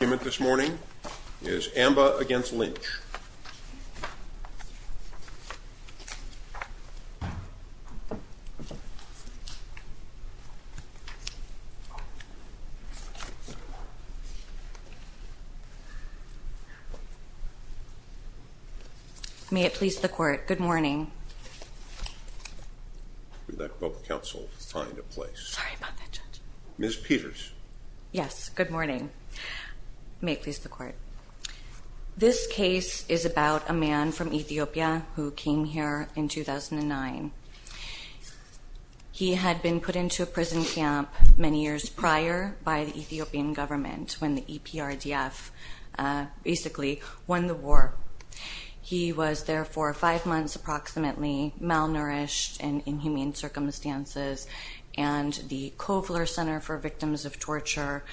Your argument this morning is Amba v. Lynch. May it please the Court, good morning. I would like both counsel to find a place. Sorry about that, Judge. Ms. Peters. Yes, good morning. May it please the Court. This case is about a man from Ethiopia who came here in 2009. He had been put into a prison camp many years prior by the Ethiopian government when the EPRDF basically won the war. He was there for five months approximately, malnourished and in humane circumstances, and the Kofler Center for Victims of Torture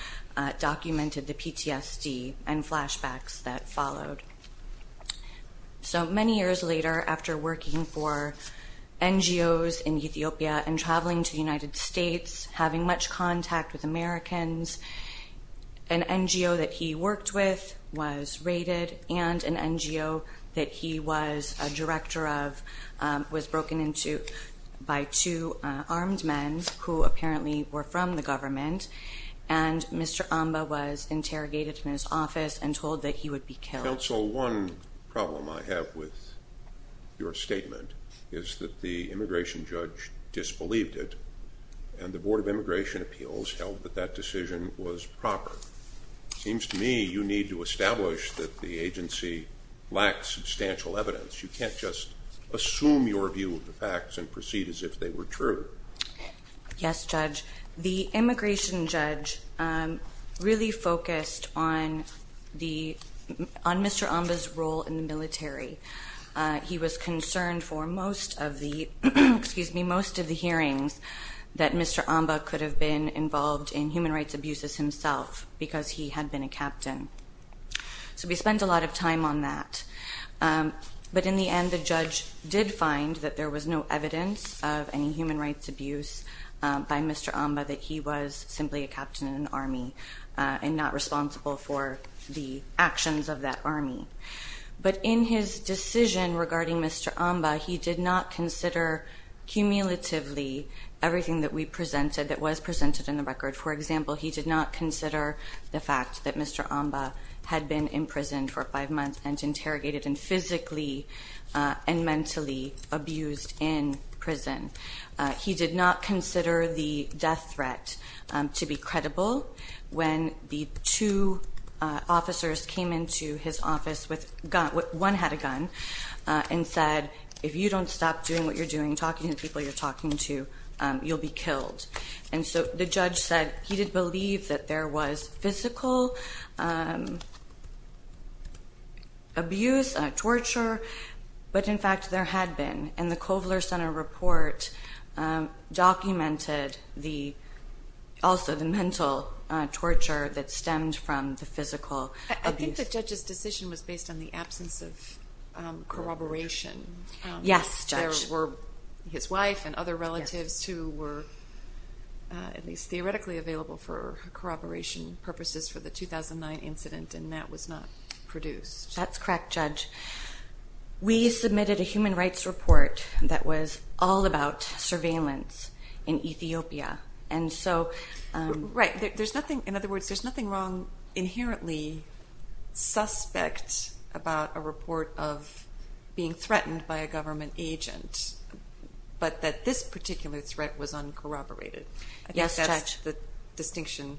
documented the PTSD and flashbacks that followed. So many years later, after working for NGOs in Ethiopia and traveling to the United States, having much contact with Americans, an NGO that he worked with was raided, and an NGO that he was a director of was broken into by two armed men who apparently were from the government, and Mr. Amba was interrogated in his office and told that he would be killed. Counsel, one problem I have with your statement is that the immigration judge disbelieved it, and the Board of Immigration Appeals held that that decision was proper. It seems to me you need to establish that the agency lacks substantial evidence. You can't just assume your view of the facts and proceed as if they were true. Yes, Judge. The immigration judge really focused on Mr. Amba's role in the military. He was concerned for most of the hearings that Mr. Amba could have been involved in human rights abuses himself, because he had been a captain. So we spent a lot of time on that. But in the end, the judge did find that there was no evidence of any human rights abuse by Mr. Amba, that he was simply a captain in an army and not responsible for the actions of that army. But in his decision regarding Mr. Amba, he did not consider cumulatively everything that we presented, that was presented in the record. For example, he did not consider the fact that Mr. Amba had been imprisoned for five months and interrogated and physically and mentally abused in prison. He did not consider the death threat to be credible. When the two officers came into his office, one had a gun and said, if you don't stop doing what you're doing, talking to people you're talking to, you'll be killed. And so the judge said he did believe that there was physical abuse, torture. But in fact, there had been. And the Kovler Center report documented also the mental torture that stemmed from the physical abuse. I think the judge's decision was based on the absence of corroboration. Yes, Judge. There were his wife and other relatives who were at least theoretically available for corroboration purposes for the 2009 incident, and that was not produced. That's correct, Judge. We submitted a human rights report that was all about surveillance in Ethiopia. Right. In other words, there's nothing wrong inherently suspect about a report of being threatened by a government agent, but that this particular threat was uncorroborated. Yes, Judge. I think that's the distinction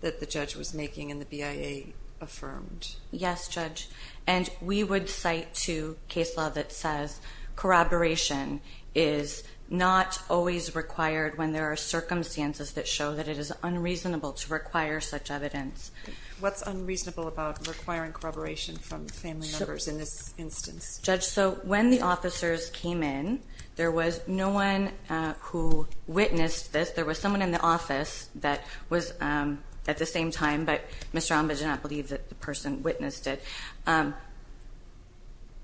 that the judge was making and the BIA affirmed. Yes, Judge. And we would cite to case law that says corroboration is not always required when there are circumstances that show that it is unreasonable to require such evidence. What's unreasonable about requiring corroboration from family members in this instance? Judge, so when the officers came in, there was no one who witnessed this. There was someone in the office that was at the same time, but Mr. Omba did not believe that the person witnessed it.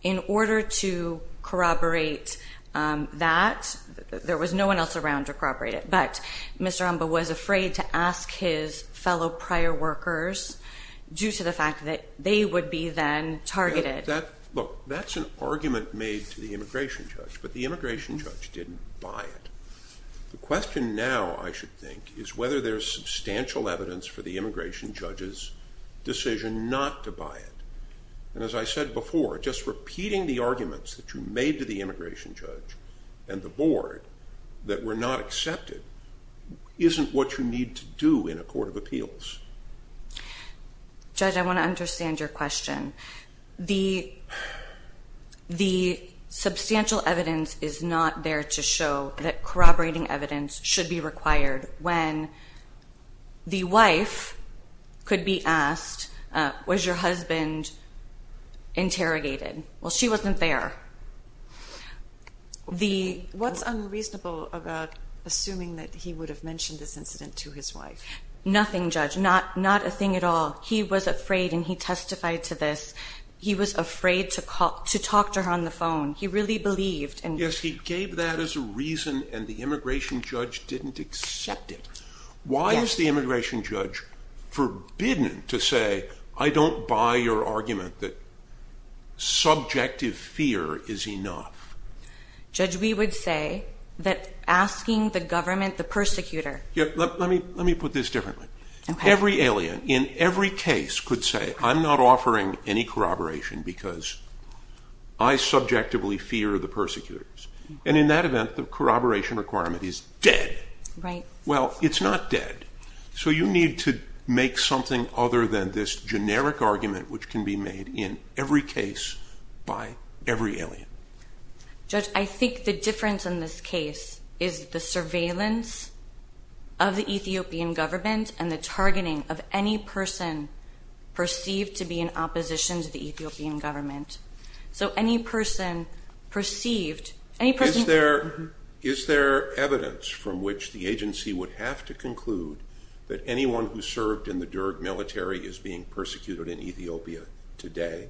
In order to corroborate that, there was no one else around to corroborate it, but Mr. Omba was afraid to ask his fellow prior workers due to the fact that they would be then targeted. Look, that's an argument made to the immigration judge, but the immigration judge didn't buy it. The question now, I should think, is whether there's substantial evidence for the immigration judge's decision not to buy it. And as I said before, just repeating the arguments that you made to the immigration judge and the board that were not accepted isn't what you need to do in a court of appeals. Judge, I want to understand your question. The substantial evidence is not there to show that corroborating evidence should be required. When the wife could be asked, was your husband interrogated? Well, she wasn't there. What's unreasonable about assuming that he would have mentioned this incident to his wife? Nothing, Judge, not a thing at all. He was afraid and he testified to this. He was afraid to talk to her on the phone. He really believed. Yes, he gave that as a reason and the immigration judge didn't accept it. Why is the immigration judge forbidden to say, I don't buy your argument that subjective fear is enough? Judge, we would say that asking the government, the persecutor... Let me put this differently. Every alien in every case could say, I'm not offering any corroboration because I subjectively fear the persecutors. And in that event, the corroboration requirement is dead. Well, it's not dead. So you need to make something other than this generic argument which can be made in every case by every alien. Judge, I think the difference in this case is the surveillance of the Ethiopian government and the targeting of any person perceived to be in opposition to the Ethiopian government. So any person perceived... Is there evidence from which the agency would have to conclude that anyone who served in the Derg military is being persecuted in Ethiopia today?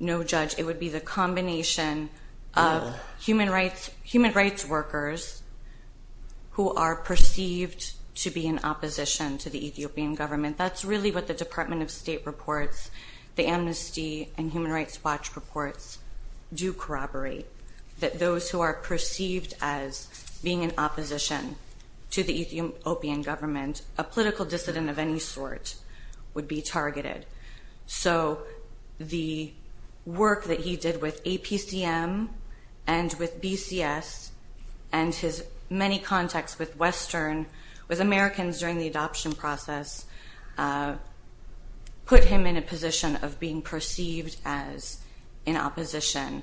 No, Judge. It would be the combination of human rights workers who are perceived to be in opposition to the Ethiopian government. That's really what the Department of State reports, the Amnesty and Human Rights Watch reports do corroborate. That those who are perceived as being in opposition to the Ethiopian government, a political dissident of any sort, would be targeted. So the work that he did with APCM and with BCS and his many contacts with Western, with Americans during the adoption process, put him in a position of being perceived as in opposition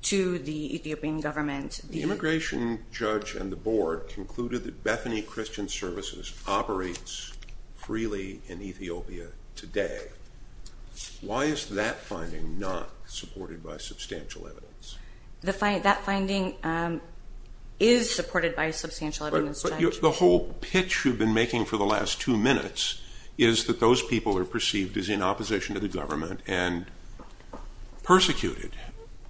to the Ethiopian government. The immigration judge and the board concluded that Bethany Christian Services operates freely in Ethiopia today. Why is that finding not supported by substantial evidence? That finding is supported by substantial evidence, Judge. But the whole pitch you've been making for the last two minutes is that those people are perceived as in opposition to the government and persecuted.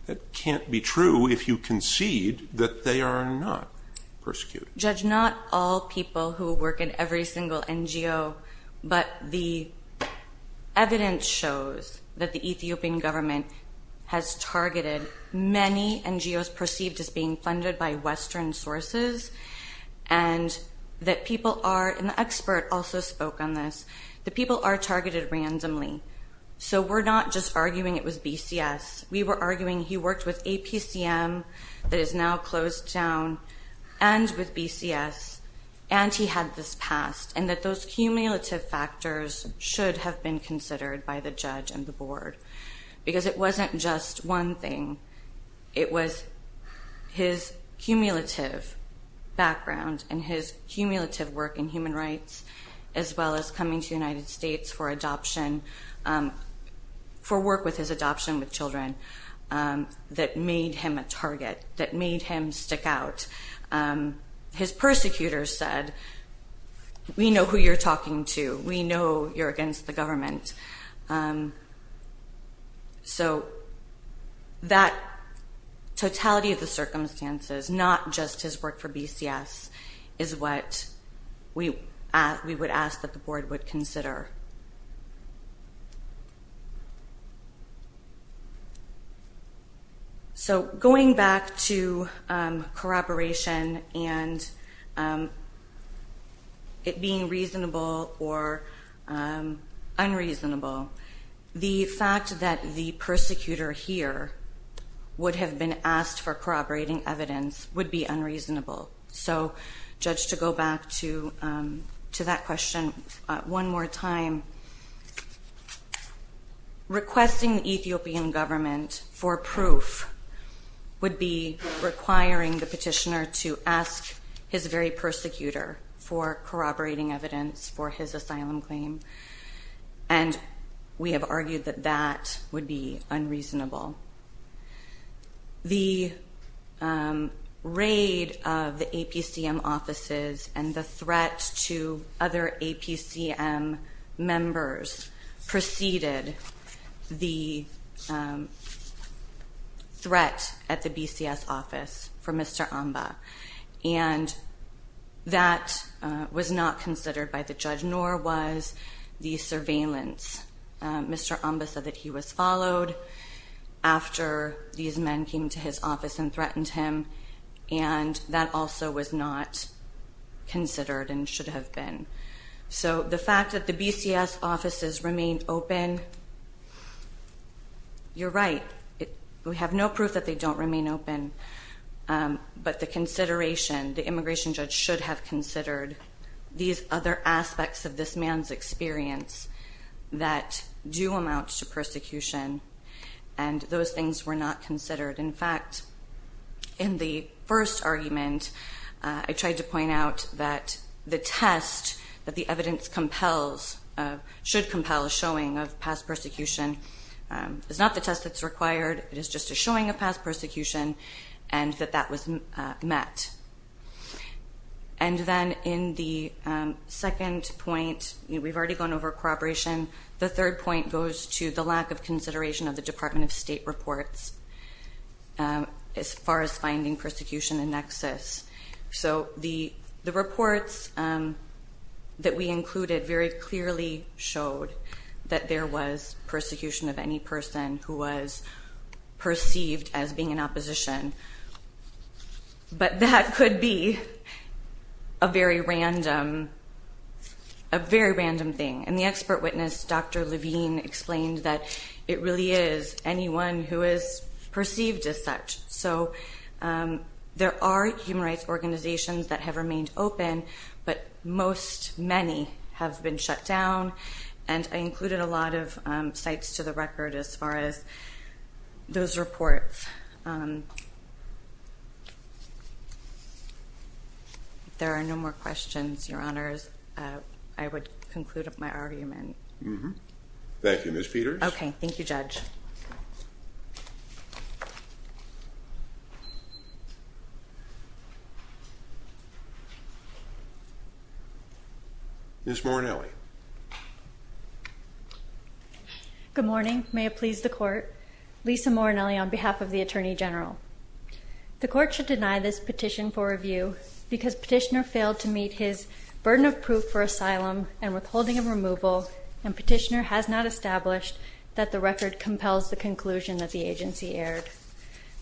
That can't be true if you concede that they are not persecuted. Judge, not all people who work in every single NGO, but the evidence shows that the Ethiopian government has targeted many NGOs perceived as being funded by Western sources and that people are, and the expert also spoke on this, that people are targeted randomly. So we're not just arguing it was BCS. We were arguing he worked with APCM that is now closed down and with BCS and he had this passed and that those cumulative factors should have been considered by the judge and the board because it wasn't just one thing. It was his cumulative background and his cumulative work in human rights as well as coming to the United States for adoption, for work with his adoption with children that made him a target, that made him stick out. His persecutors said, we know who you're talking to. We know you're against the government. So that totality of the circumstances, not just his work for BCS, is what we would ask that the board would consider. So going back to corroboration and it being reasonable or unreasonable, the fact that the persecutor here would have been asked for corroborating evidence would be unreasonable. So judge, to go back to that question one more time, requesting the Ethiopian government for proof would be requiring the petitioner to ask his very persecutor for corroborating evidence for his asylum claim and we have argued that that would be unreasonable. The raid of the APCM offices and the threat to other APCM members preceded the threat at the BCS office for Mr. Amba. And that was not considered by the judge nor was the surveillance. Mr. Amba said that he was followed after these men came to his office and threatened him and that also was not considered and should have been. So the fact that the BCS offices remain open, you're right. We have no proof that they don't remain open. But the consideration, the immigration judge should have considered these other aspects of this man's experience that do amount to persecution and those things were not considered. In fact, in the first argument, I tried to point out that the test that the evidence compels, should compel a showing of past persecution is not the test that's required. It is just a showing of past persecution and that that was met. And then in the second point, we've already gone over corroboration. The third point goes to the lack of consideration of the Department of State reports as far as finding persecution in nexus. So the reports that we included very clearly showed that there was persecution of any person who was perceived as being in opposition. But that could be a very random thing. And the expert witness, Dr. Levine, explained that it really is anyone who is perceived as such. So there are human rights organizations that have remained open, but most many have been shut down. And I included a lot of sites to the record as far as those reports. If there are no more questions, Your Honors, I would conclude my argument. Thank you, Ms. Peters. Okay. Thank you, Judge. Ms. Morinelli. Good morning. May it please the Court. Lisa Morinelli on behalf of the Attorney General. The Court should deny this petition for review because Petitioner failed to meet his burden of proof for asylum and withholding of removal, and Petitioner has not established that the record compels the conclusion that the agency aired.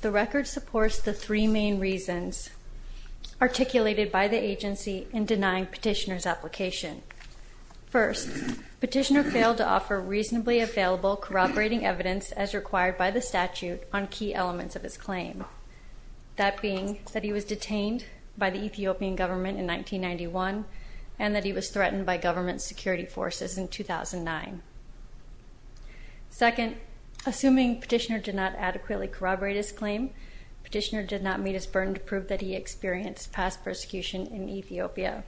The record supports the three main reasons articulated by the agency in denying Petitioner's application. First, Petitioner failed to offer reasonably available corroborating evidence as required by the statute on key elements of his claim. That being that he was detained by the Ethiopian government in 1991 and that he was threatened by government security forces in 2009. Second, assuming Petitioner did not adequately corroborate his claim, Petitioner did not meet his burden to prove that he experienced past persecution in Ethiopia.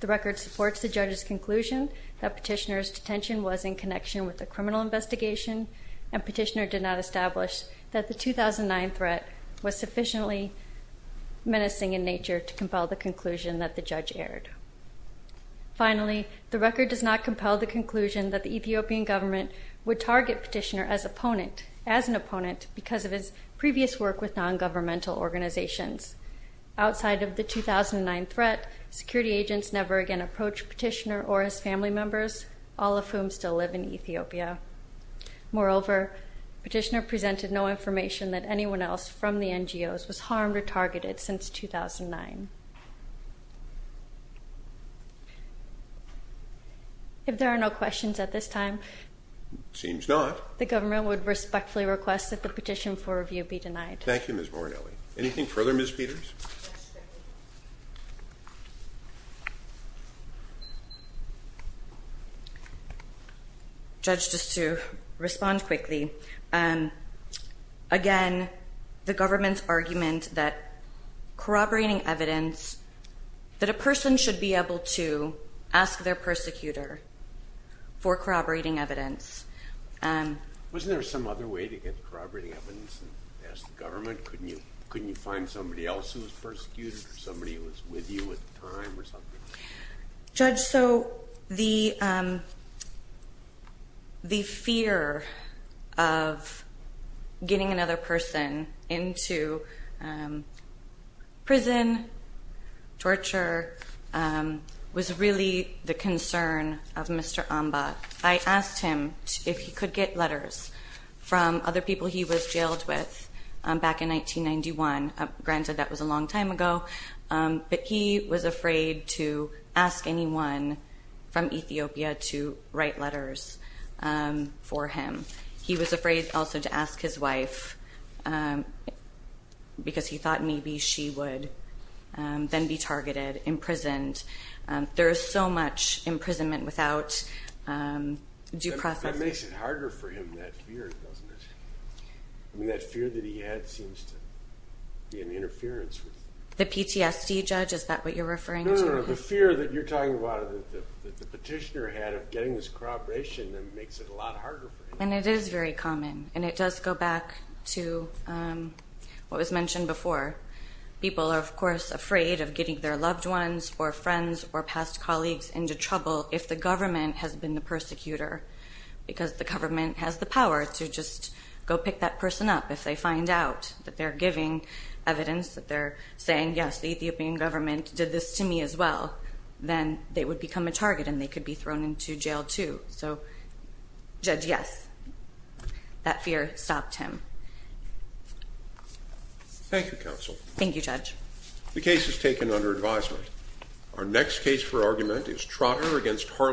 The record supports the judge's conclusion that Petitioner's detention was in connection with a criminal investigation, and Petitioner did not establish that the 2009 threat was sufficiently menacing in nature to compel the conclusion that the judge aired. Finally, the record does not compel the conclusion that the Ethiopian government would target Petitioner as an opponent because of his previous work with non-governmental organizations. Outside of the 2009 threat, security agents never again approached Petitioner or his family members, all of whom still live in Ethiopia. Moreover, Petitioner presented no information that anyone else from the NGOs was harmed or targeted since 2009. If there are no questions at this time... Seems not. ...the government would respectfully request that the petition for review be denied. Thank you, Ms. Morinelli. Anything further, Ms. Peters? Judge, just to respond quickly. Again, the government's argument that corroborating evidence, that a person should be able to ask their persecutor for corroborating evidence... Wasn't there some other way to get corroborating evidence and ask the government? Couldn't you find somebody else who was persecuted or somebody who was with you at the time or something? Judge, so the fear of getting another person into prison, torture, was really the concern of Mr. Amba. I asked him if he could get letters from other people he was jailed with back in 1991. Granted, that was a long time ago, but he was afraid to ask anyone from Ethiopia to write letters for him. He was afraid also to ask his wife because he thought maybe she would then be targeted, imprisoned. There is so much imprisonment without due process. That makes it harder for him, that fear, doesn't it? That fear that he had seems to be an interference. The PTSD, Judge, is that what you're referring to? No, the fear that you're talking about, the petitioner had of getting this corroboration, makes it a lot harder for him. It is very common, and it does go back to what was mentioned before. People are, of course, afraid of getting their loved ones or friends or past colleagues into trouble if the government has been the persecutor because the government has the power to just go pick that person up. If they find out that they're giving evidence, that they're saying, yes, the Ethiopian government did this to me as well, then they would become a target and they could be thrown into jail too. So, Judge, yes, that fear stopped him. Thank you, Counsel. Thank you, Judge. The case is taken under advisement. Our next case for argument is Trotter v. Harlan.